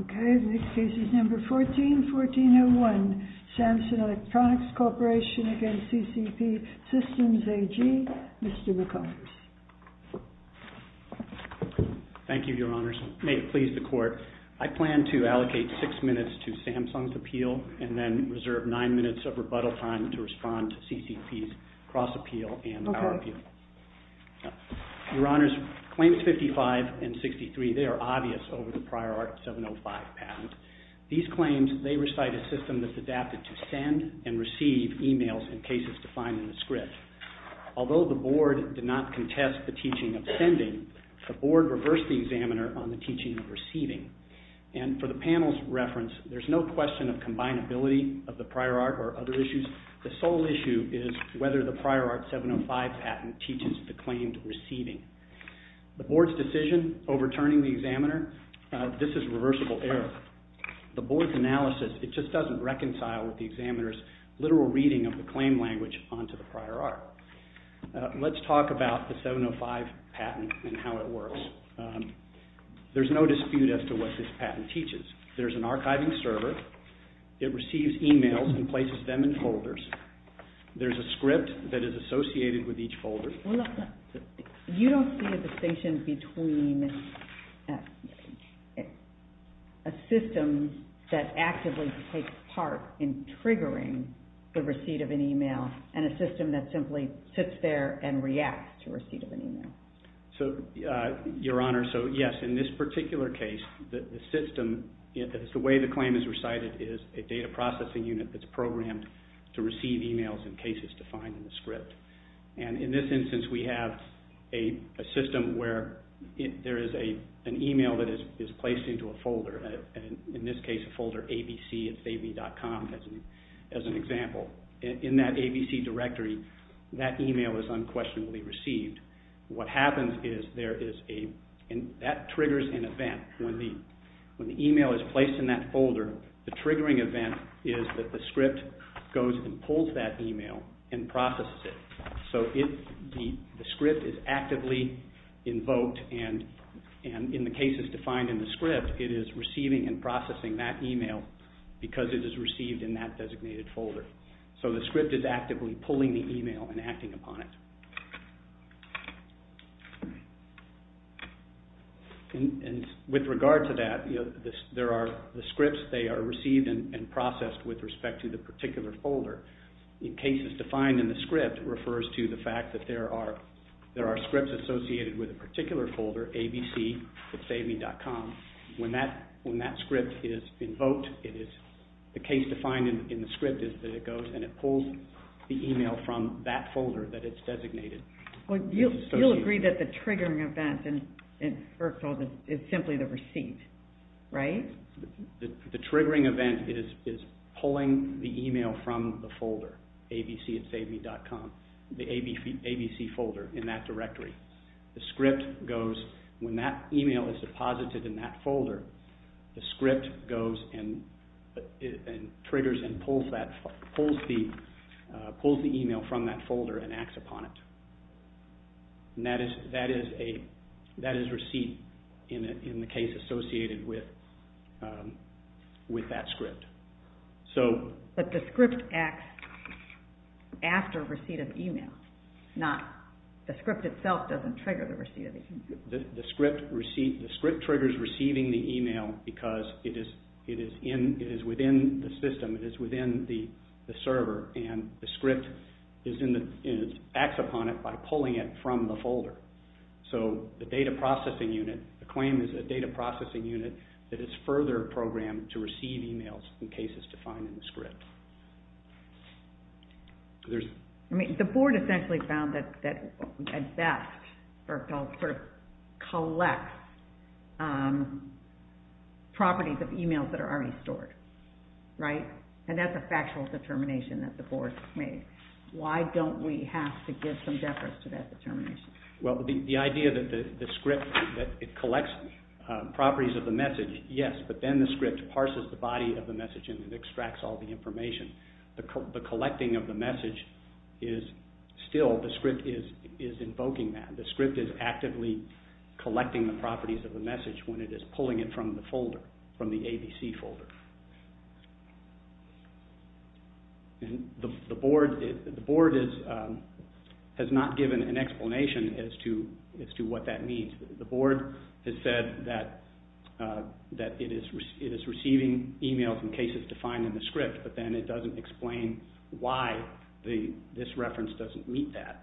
Okay, the next case is number 14-1401, Samson Electronics Corporation against CCP Systems AG, Mr. McCullers. Thank you, Your Honors. May it please the Court, I plan to allocate six minutes to Samson's appeal and then reserve nine minutes of rebuttal time to respond to CCP's cross-appeal and our appeal. Okay. Your Honors, Claims 55 and 63, they are obvious over the Prior Art 705 patent. These claims, they recite a system that's adapted to send and receive emails in cases defined in the script. Although the Board did not contest the teaching of sending, the Board reversed the examiner on the teaching of receiving. And for the panel's reference, there's no question of combinability of the Prior Art or other issues. In other words, the sole issue is whether the Prior Art 705 patent teaches the claimed receiving. The Board's decision, overturning the examiner, this is reversible error. The Board's analysis, it just doesn't reconcile with the examiner's literal reading of the claim language onto the Prior Art. Let's talk about the 705 patent and how it works. There's no dispute as to what this patent teaches. There's an archiving server. It receives emails and places them in folders. There's a script that is associated with each folder. You don't see a distinction between a system that actively takes part in triggering the receipt of an email and a system that simply sits there and reacts to receipt of an email. Your Honor, yes, in this particular case, the system, the way the claim is recited, is a data processing unit that's programmed to receive emails in cases defined in the script. In this instance, we have a system where there is an email that is placed into a folder. In this case, a folder abc, it's ab.com as an example. In that abc directory, that email is unquestionably received. What happens is that triggers an event. When the email is placed in that folder, the triggering event is that the script goes and pulls that email and processes it. The script is actively invoked and in the cases defined in the script, it is receiving and processing that email because it is received in that designated folder. The script is actively pulling the email and acting upon it. With regard to that, there are the scripts. They are received and processed with respect to the particular folder. In cases defined in the script, it refers to the fact that there are scripts associated with a particular folder, abc, it's ab.com. When that script is invoked, the case defined in the script is that it goes and it pulls the email from that folder that it's designated. You'll agree that the triggering event is simply the receipt, right? The triggering event is pulling the email from the folder, abc, it's ab.com, the abc folder in that directory. When that email is deposited in that folder, the script goes and triggers and pulls the email from that folder and acts upon it. That is receipt in the case associated with that script. But the script acts after receipt of email, not the script itself doesn't trigger the receipt of email. The script triggers receiving the email because it is within the system, it is within the server and the script acts upon it by pulling it from the folder. The data processing unit, the claim is a data processing unit that is further programmed to receive emails in cases defined in the script. The board essentially found that a debt sort of collects properties of emails that are already stored, right? And that's a factual determination that the board made. Why don't we have to give some deference to that determination? Well, the idea that the script collects properties of the message, yes, but then the script parses the body of the message and extracts all the information. The collecting of the message is still, the script is invoking that. The script is actively collecting the properties of the message when it is pulling it from the folder, from the abc folder. The board has not given an explanation as to what that means. The board has said that it is receiving emails in cases defined in the script but then it doesn't explain why this reference doesn't meet that.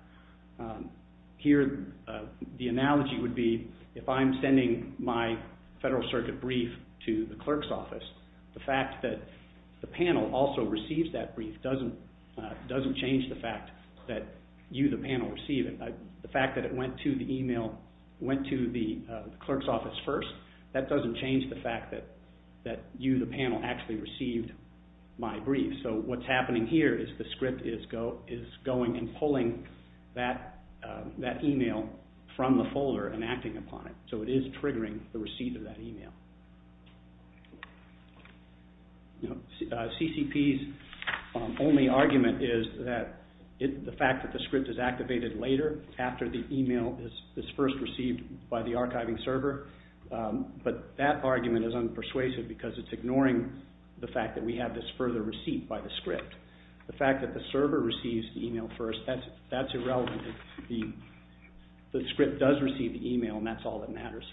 Here, the analogy would be if I'm sending my federal circuit brief to the clerk's office, the fact that the panel also receives that brief doesn't change the fact that you, the panel, receive it. The fact that it went to the email, went to the clerk's office first, that doesn't change the fact that you, the panel, actually received my brief. So what's happening here is the script is going and pulling that email from the folder and acting upon it. So it is triggering the receipt of that email. CCP's only argument is that the fact that the script is activated later after the email is first received by the archiving server, but that argument is unpersuasive because it's ignoring the fact that we have this further receipt by the script. The fact that the server receives the email first, that's irrelevant. The script does receive the email and that's all that matters.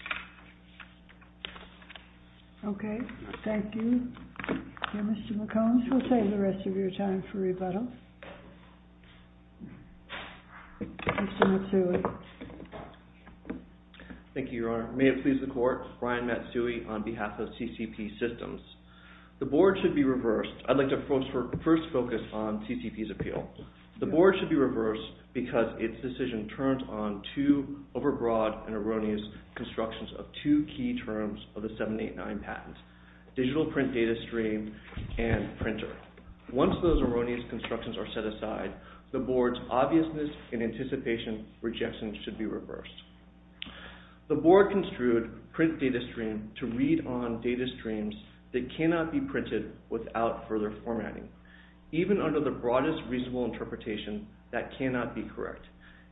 Okay, thank you. Mr. McCombs, we'll save the rest of your time for rebuttal. Mr. Matsui. Thank you, Your Honor. May it please the Court, Brian Matsui on behalf of CCP Systems. The board should be reversed. I'd like to first focus on CCP's appeal. The board should be reversed because its decision turns on two overbroad and erroneous constructions of two key terms of the 789 patent, digital print data stream and printer. Once those erroneous constructions are set aside, the board's obviousness and anticipation rejections should be reversed. The board construed print data stream to read on data streams that cannot be printed without further formatting. Even under the broadest reasonable interpretation, that cannot be correct.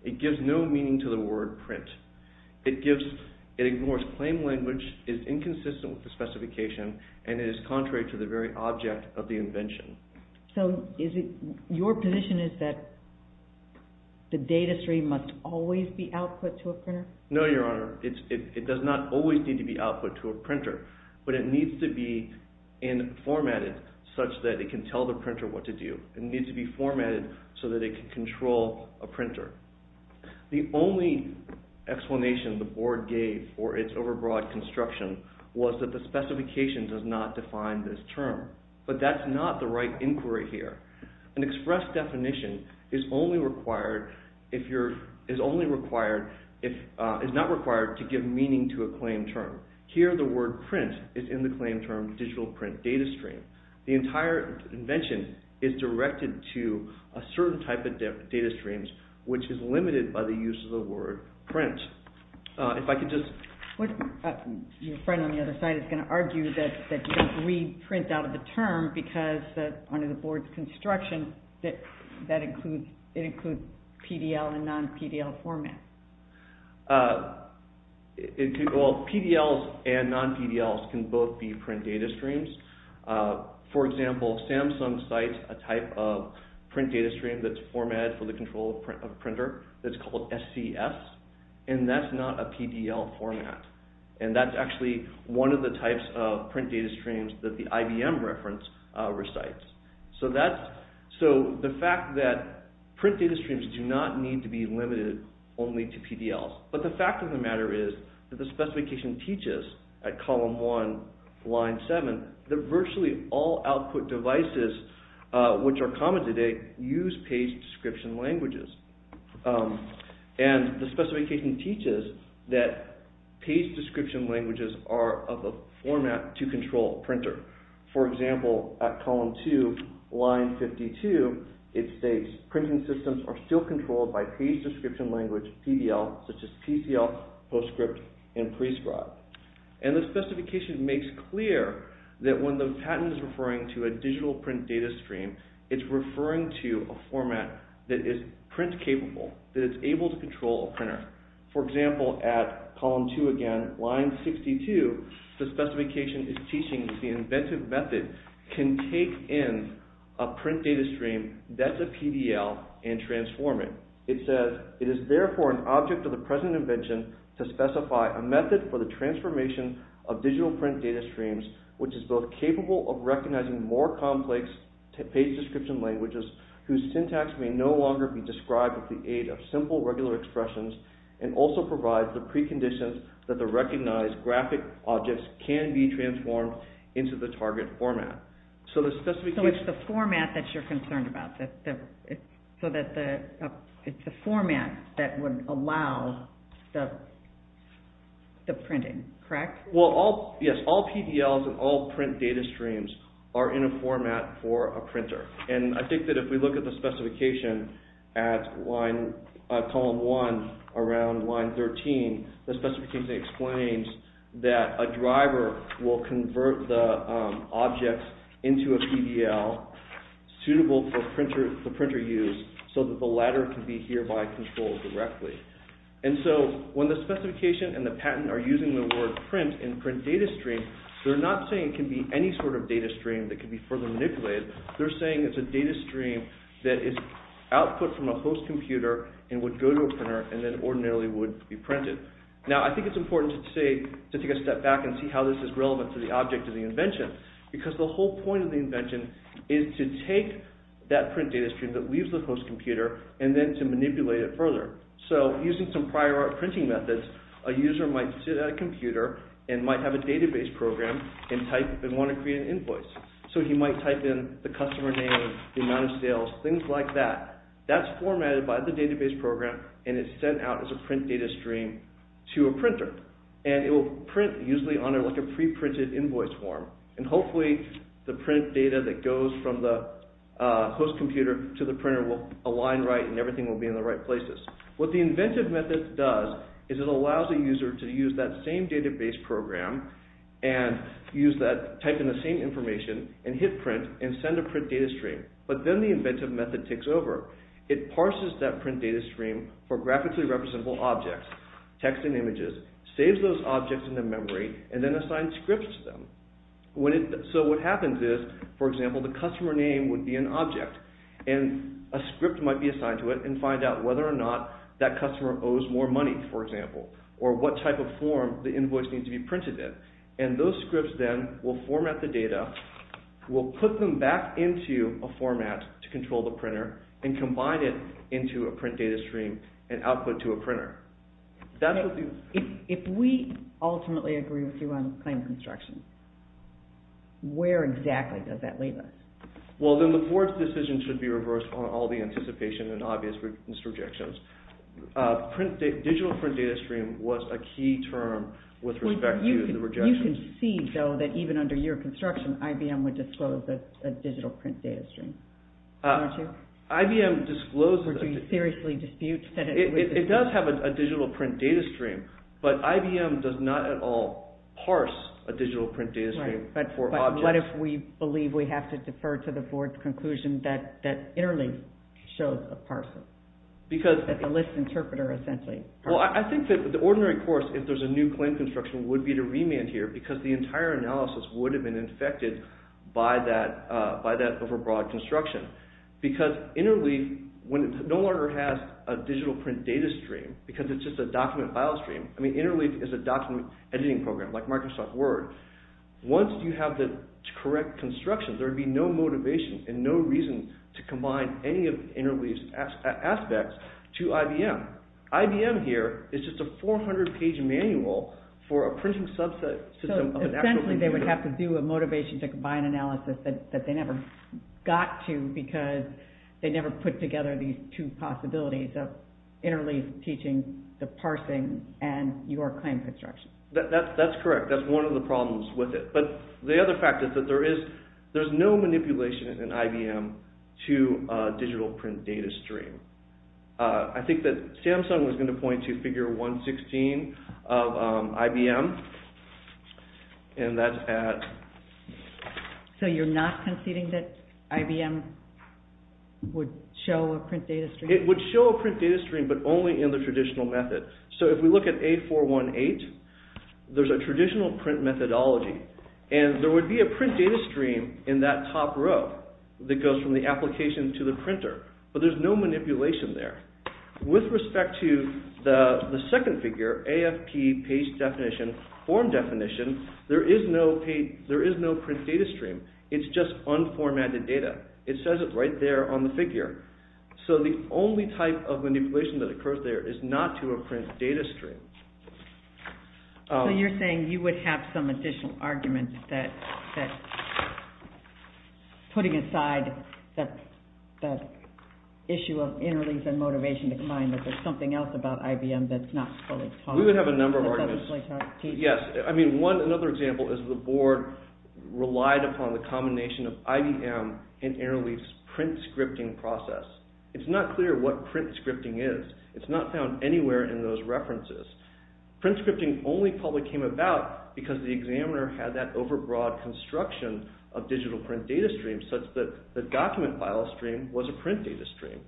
It gives no meaning to the word print. It ignores claim language, is inconsistent with the specification, and is contrary to the very object of the invention. So your position is that the data stream must always be output to a printer? No, Your Honor. It does not always need to be output to a printer, but it needs to be formatted such that it can tell the printer what to do. The only explanation the board gave for its overbroad construction was that the specification does not define this term. But that's not the right inquiry here. An express definition is not required to give meaning to a claim term. Here the word print is in the claim term digital print data stream. The entire invention is directed to a certain type of data streams, which is limited by the use of the word print. Your friend on the other side is going to argue that you don't read print out of the term because under the board's construction it includes PDL and non-PDL formats. PDLs and non-PDLs can both be print data streams. For example, Samsung cites a type of print data stream that's formatted for the control of a printer that's called SCS, and that's not a PDL format. And that's actually one of the types of print data streams that the IBM reference recites. So the fact that print data streams do not need to be limited only to PDLs, but the fact of the matter is that the specification teaches at column one, line seven, that virtually all output devices, which are common today, use page description languages. And the specification teaches that page description languages are of a format to control a printer. For example, at column two, line 52, it states printing systems are still controlled by page description language, PDL, such as PCL, PostScript, and Prescribe. And the specification makes clear that when the patent is referring to a digital print data stream, it's referring to a format that is print capable, that is able to control a printer. For example, at column two again, line 62, the specification is teaching that the inventive method can take in a print data stream that's a PDL and transform it. It says, it is therefore an object of the present invention to specify a method for the transformation of digital print data streams, which is both capable of recognizing more complex page description languages whose syntax may no longer be described with the aid of simple regular expressions, and also provides the preconditions that the recognized graphic objects can be transformed into the target format. So the specification... So it's the format that you're concerned about, so that the... It's the format that would allow the printing, correct? Well, yes. All PDLs and all print data streams are in a format for a printer. And I think that if we look at the specification at line... At column one, around line 13, the specification explains that a driver will convert the objects into a PDL suitable for printer use, so that the latter can be hereby controlled directly. And so, when the specification and the patent are using the word print in print data stream, they're not saying it can be any sort of data stream that can be further manipulated. They're saying it's a data stream that is output from a host computer and would go to a printer and then ordinarily would be printed. Now, I think it's important to take a step back and see how this is relevant to the object of the invention. Because the whole point of the invention is to take that print data stream that leaves the host computer and then to manipulate it further. So, using some prior art printing methods, a user might sit at a computer and might have a database program and type and want to create an invoice. So, he might type in the customer name, the amount of sales, things like that. That's formatted by the database program and is sent out as a print data stream to a printer. And it will print usually on a pre-printed invoice form. And hopefully, the print data that goes from the host computer to the printer will align right and everything will be in the right places. What the inventive method does is it allows the user to use that same database program and type in the same information and hit print and send a print data stream. But then the inventive method takes over. It parses that print data stream for graphically representable objects, text and images, saves those objects into memory and then assigns scripts to them. So, what happens is, for example, the customer name would be an object and a script might be assigned to it and find out whether or not that customer owes more money, for example, or what type of form the invoice needs to be printed in. And those scripts then will format the data, will put them back into a format to control the printer and combine it into a print data stream and output to a printer. If we ultimately agree with you on claim construction, where exactly does that leave us? Well, then the board's decision should be reversed on all the anticipation and obvious rejections. Digital print data stream was a key term with respect to the rejection. You can see, though, that even under your construction, IBM would disclose a digital print data stream, aren't you? IBM disclosed... Would you seriously dispute that it would... It does have a digital print data stream, but IBM does not at all parse a digital print data stream for objects. Right, but what if we believe we have to defer to the board's conclusion that Interlink shows a parser? That's a list interpreter, essentially. Well, I think that the ordinary course, if there's a new claim construction, would be to remand here because the entire analysis would have been infected by that overbroad construction. Because Interlink no longer has a digital print data stream because it's just a document file stream. I mean, Interlink is a document editing program like Microsoft Word. Once you have the correct construction, there would be no motivation and no reason to combine any of Interlink's aspects to IBM. IBM here is just a 400-page manual for a printing subset system of an actual... So, essentially, they would have to do a motivation to combine analysis that they never got to because they never put together these two possibilities of Interlink teaching the parsing and your claim construction. That's correct. That's one of the problems with it. But the other fact is that there's no manipulation in IBM to a digital print data stream. I think that Samsung was going to point to figure 116 of IBM, and that's at... So, you're not conceding that IBM would show a print data stream? It would show a print data stream, but only in the traditional method. So, if we look at A418, there's a traditional print methodology, and there would be a print data stream in that top row that goes from the application to the printer, but there's no manipulation there. With respect to the second figure, AFP page definition, form definition, there is no print data stream. It's just unformatted data. It says it right there on the figure. So, the only type of manipulation that occurs there is not to a print data stream. So, you're saying you would have some additional arguments that, putting aside that issue of interlinks and motivation to combine, that there's something else about IBM that's not fully taught. We would have a number of arguments. Yes. I mean, another example is the board relied upon the combination of IBM and Interleaf's print scripting process. It's not clear what print scripting is. It's not found anywhere in those references. Print scripting only probably came about because the examiner had that overbroad construction of digital print data streams, such that the document file stream was a print data stream.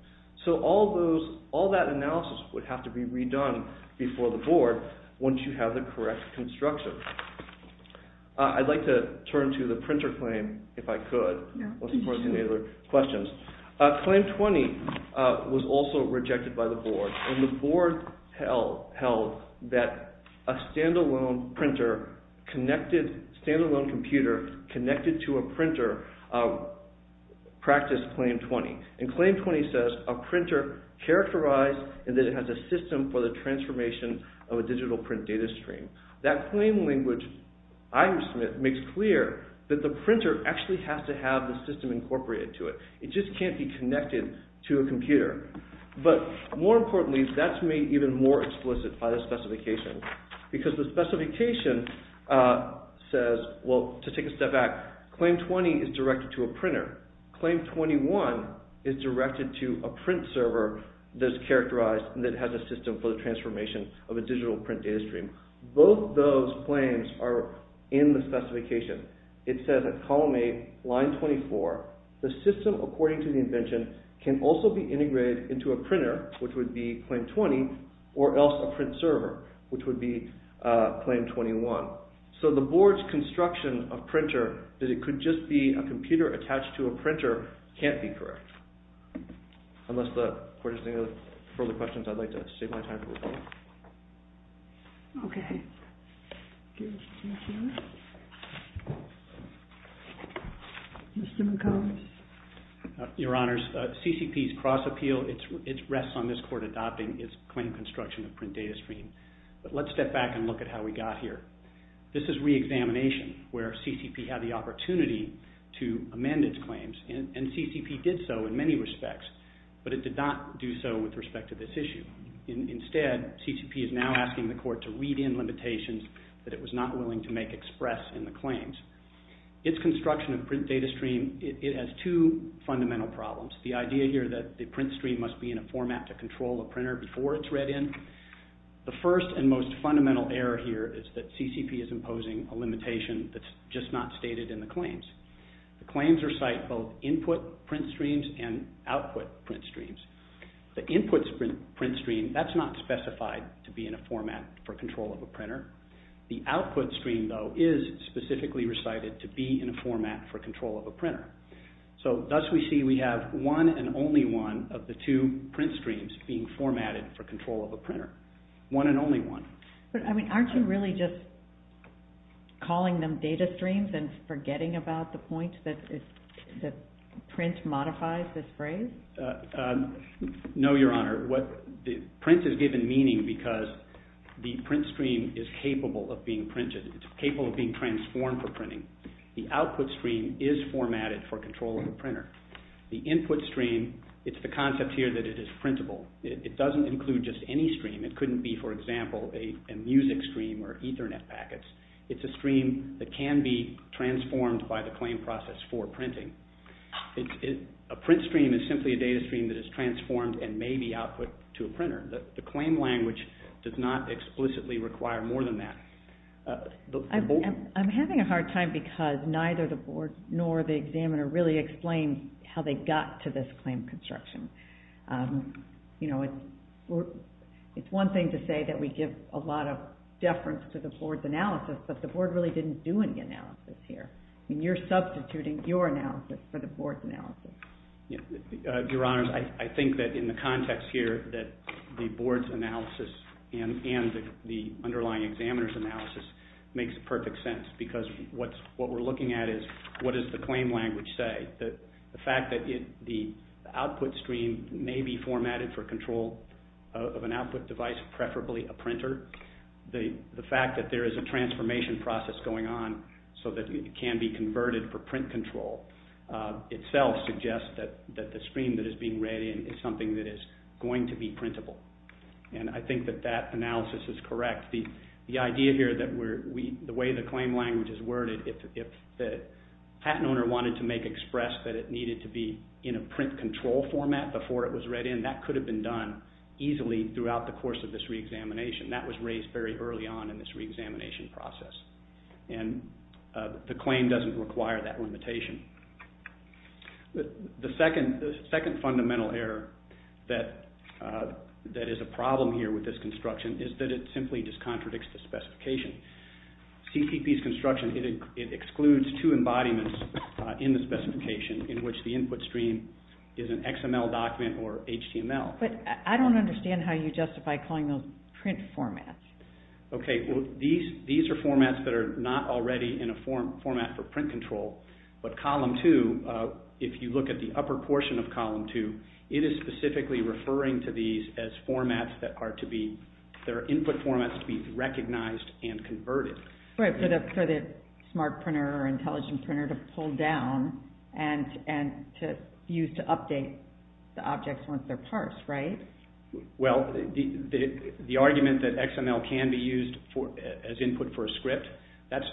So, all that analysis would have to be redone before the board, once you have the correct construction. I'd like to turn to the printer claim, if I could. No. Unless you have any other questions. Claim 20 was also rejected by the board, and the board held that a stand-alone printer connected, a stand-alone computer connected to a printer practiced Claim 20. And Claim 20 says, a printer characterized that it has a system for the transformation of a digital print data stream. That claim language, I would submit, makes clear that the printer actually has to have the system incorporated to it. It just can't be connected to a computer. But, more importantly, that's made even more explicit by the specification. Because the specification says, well, to take a step back, Claim 20 is directed to a printer. Claim 21 is directed to a print server that's characterized, that has a system for the transformation of a digital print data stream. Both those claims are in the specification. It says at column 8, line 24, the system, according to the invention, can also be integrated into a printer, which would be Claim 20, or else a print server, which would be Claim 21. So, the Board's construction of printer, that it could just be a computer attached to a printer, can't be correct. Unless the Board has any further questions, I'd like to save my time. Okay. Mr. McCombs. Your Honors, CCP's cross appeal, it rests on this Court adopting its claim construction of print data stream. But let's step back and look at how we got here. This is reexamination, where CCP had the opportunity to amend its claims. And CCP did so in many respects, but it did not do so with respect to this issue. Instead, CCP is now asking the Court to read in limitations that it was not willing to make express in the claims. Its construction of print data stream, it has two fundamental problems. The idea here that the print stream must be in a format to control a printer before it's read in. The first and most fundamental error here is that CCP is imposing a limitation that's just not stated in the claims. The claims recite both input print streams and output print streams. The input print stream, that's not specified to be in a format for control of a printer. The output stream, though, is specifically recited to be in a format for control of a printer. So, thus we see we have one and only one of the two print streams being formatted for control of a printer. One and only one. But, I mean, aren't you really just calling them data streams and forgetting about the point that print modifies this phrase? No, Your Honor. Print is given meaning because the print stream is capable of being printed. It's capable of being transformed for printing. The output stream is formatted for control of a printer. The input stream, it's the concept here that it is printable. It doesn't include just any stream. It couldn't be, for example, a music stream or Ethernet packets. It's a stream that can be transformed by the claim process for printing. A print stream is simply a data stream that is transformed and may be output to a printer. The claim language does not explicitly require more than that. I'm having a hard time because neither the Board nor the examiner really explained how they got to this claim construction. It's one thing to say that we give a lot of deference to the Board's analysis, but the Board really didn't do any analysis here. You're substituting your analysis for the Board's analysis. Your Honors, I think that in the context here that the Board's analysis and the underlying examiner's analysis makes perfect sense because what we're looking at is what does the claim language say. The fact that the output stream may be formatted for control of an output device, preferably a printer. The fact that there is a transformation process going on so that it can be converted for print control itself suggests that the stream that is being read in is something that is going to be printable. I think that that analysis is correct. The idea here that the way the claim language is worded, if the patent owner wanted to make express that it needed to be in a print control format before it was read in, that could have been done easily throughout the course of this reexamination. That was raised very early on in this reexamination process. The claim doesn't require that limitation. The second fundamental error that is a problem here with this construction is that it simply just contradicts the specification. CPP's construction, it excludes two embodiments in the specification in which the input stream is an XML document or HTML. I don't understand how you justify calling those print formats. These are formats that are not already in a format for print control but Column 2, if you look at the upper portion of Column 2, it is specifically referring to these as formats that are to be, they're input formats to be recognized and converted. For the smart printer or intelligent printer to pull down and to use to update the objects once they're parsed, right? Well, the argument that XML can be used as input for a script, that's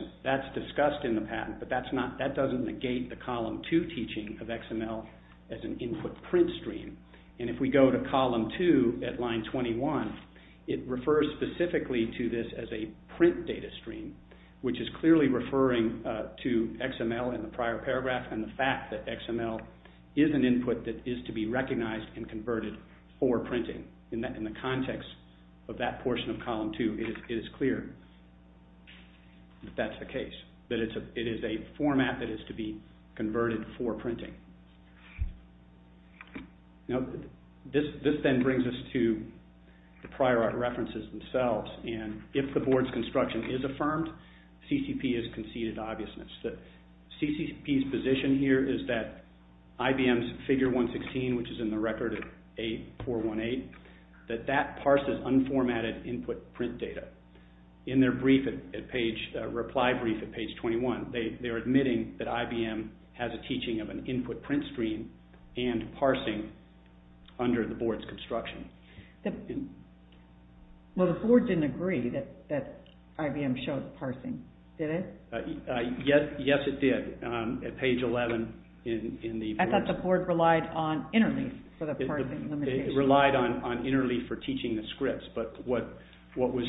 discussed in the patent, but that doesn't negate the Column 2 teaching of XML as an input print stream. And if we go to Column 2 at line 21, it refers specifically to this as a print data stream which is clearly referring to XML in the prior paragraph and the fact that XML is an input that is to be recognized and converted for printing. In the context of that portion of Column 2, it is clear that that's the case, that it is a format that is to be converted for printing. Now, this then brings us to the prior art references themselves and if the board's construction is affirmed, CCP has conceded obviousness. CCP's position here is that IBM's Figure 116, which is in the record of A418, that that parses unformatted input print data. In their reply brief at page 21, they're admitting that IBM has a teaching of an input print stream and parsing under the board's construction. Well, the board didn't agree that IBM showed parsing, did it? Yes, it did at page 11. I thought the board relied on Interleaf for the parsing. It relied on Interleaf for teaching the scripts, but what was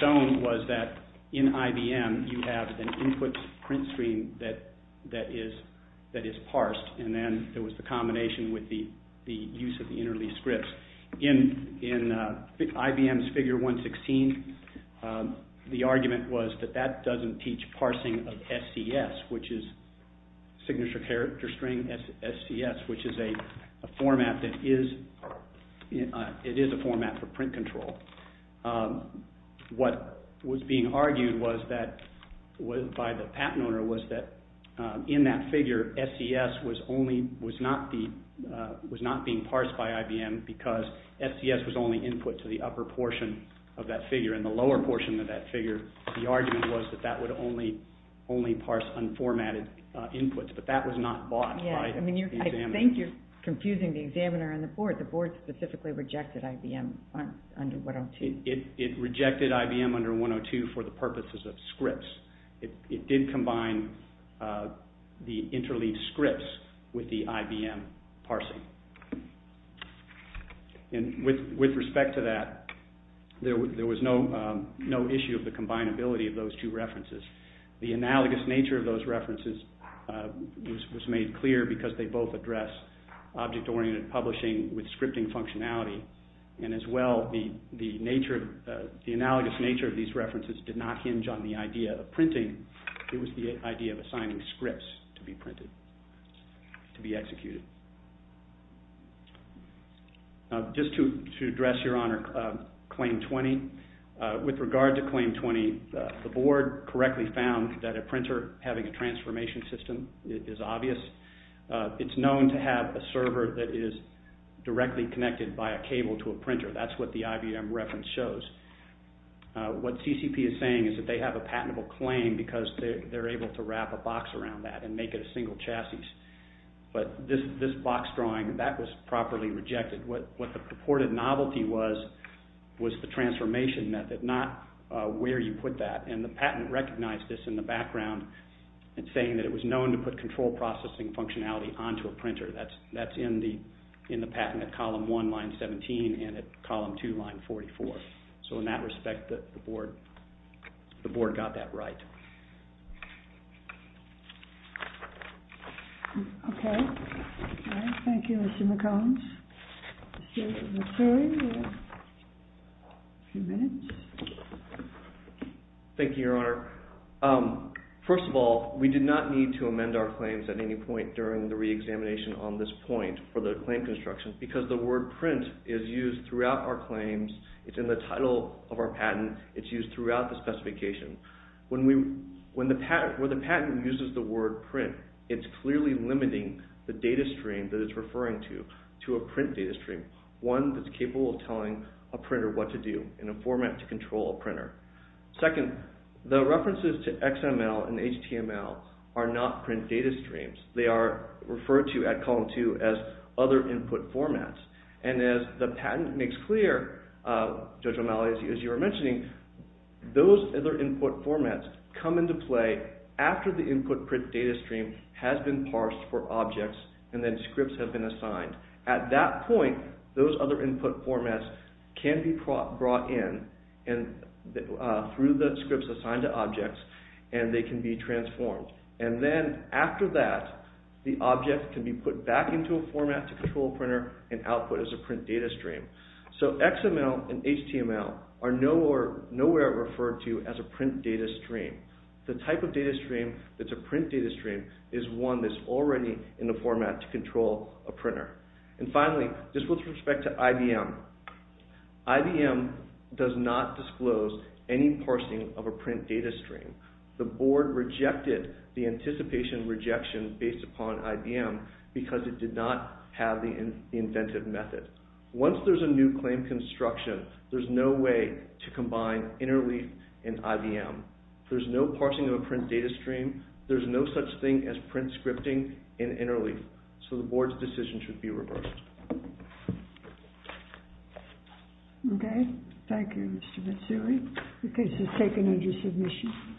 shown was that in IBM, you have an input print stream that is parsed and then there was the combination with the use of the Interleaf scripts. In IBM's Figure 116, the argument was that that doesn't teach parsing of SCS, which is Signature Character String SCS, which is a format that is a format for print control. What was being argued by the patent owner was that in that figure, SCS was not being parsed by IBM because SCS was only input to the upper portion of that figure and the lower portion of that figure, the argument was that that would only parse unformatted inputs, but that was not bought by the examiner. I think you're confusing the examiner and the board. The board specifically rejected IBM under 102. It rejected IBM under 102 for the purposes of scripts. It did combine the Interleaf scripts with the IBM parsing. With respect to that, there was no issue of the combinability of those two references. The analogous nature of those references was made clear because they both address object-oriented publishing with scripting functionality and as well, the analogous nature of these references did not hinge on the idea of printing. It was the idea of assigning scripts to be printed, to be executed. Just to address, Your Honor, Claim 20. With regard to Claim 20, the board correctly found that a printer having a transformation system is obvious. It's known to have a server that is directly connected by a cable to a printer. That's what the IBM reference shows. What CCP is saying is that they have a patentable claim because they're able to wrap a box around that and make it a single chassis. But this box drawing, that was properly rejected. What the purported novelty was was the transformation method, not where you put that. And the patent recognized this in the background in saying that it was known to put control processing functionality onto a printer. That's in the patent at column 1, line 17, and at column 2, line 44. So in that respect, the board got that right. Okay. Thank you, Mr. McCombs. Let's hear from the jury. A few minutes. Thank you, Your Honor. First of all, we did not need to amend our claims at any point during the reexamination on this point for the claim construction because the word print is used throughout our claims. It's in the title of our patent. It's used throughout the specification. When the patent uses the word print, it's clearly limiting the data stream that it's referring to to a print data stream, one that's capable of telling a printer what to do in a format to control a printer. Second, the references to XML and HTML are not print data streams. They are referred to at column 2 as other input formats. And as the patent makes clear, Judge O'Malley, as you were mentioning, those other input formats come into play after the input print data stream has been parsed for objects and then scripts have been assigned. At that point, those other input formats can be brought in through the scripts assigned to objects and they can be transformed. And then after that, the object can be put back into a format to control a printer and output as a print data stream. So XML and HTML are nowhere referred to as a print data stream. The type of data stream that's a print data stream is one that's already in the format to control a printer. And finally, just with respect to IBM, IBM does not disclose any parsing of a print data stream. The board rejected the anticipation rejection based upon IBM because it did not have the inventive method. Once there's a new claim construction, there's no way to combine Interleaf and IBM. There's no parsing of a print data stream. There's no such thing as print scripting in Interleaf. So the board's decision should be reversed. Okay. Thank you, Mr. Mitsui. The case is taken under submission.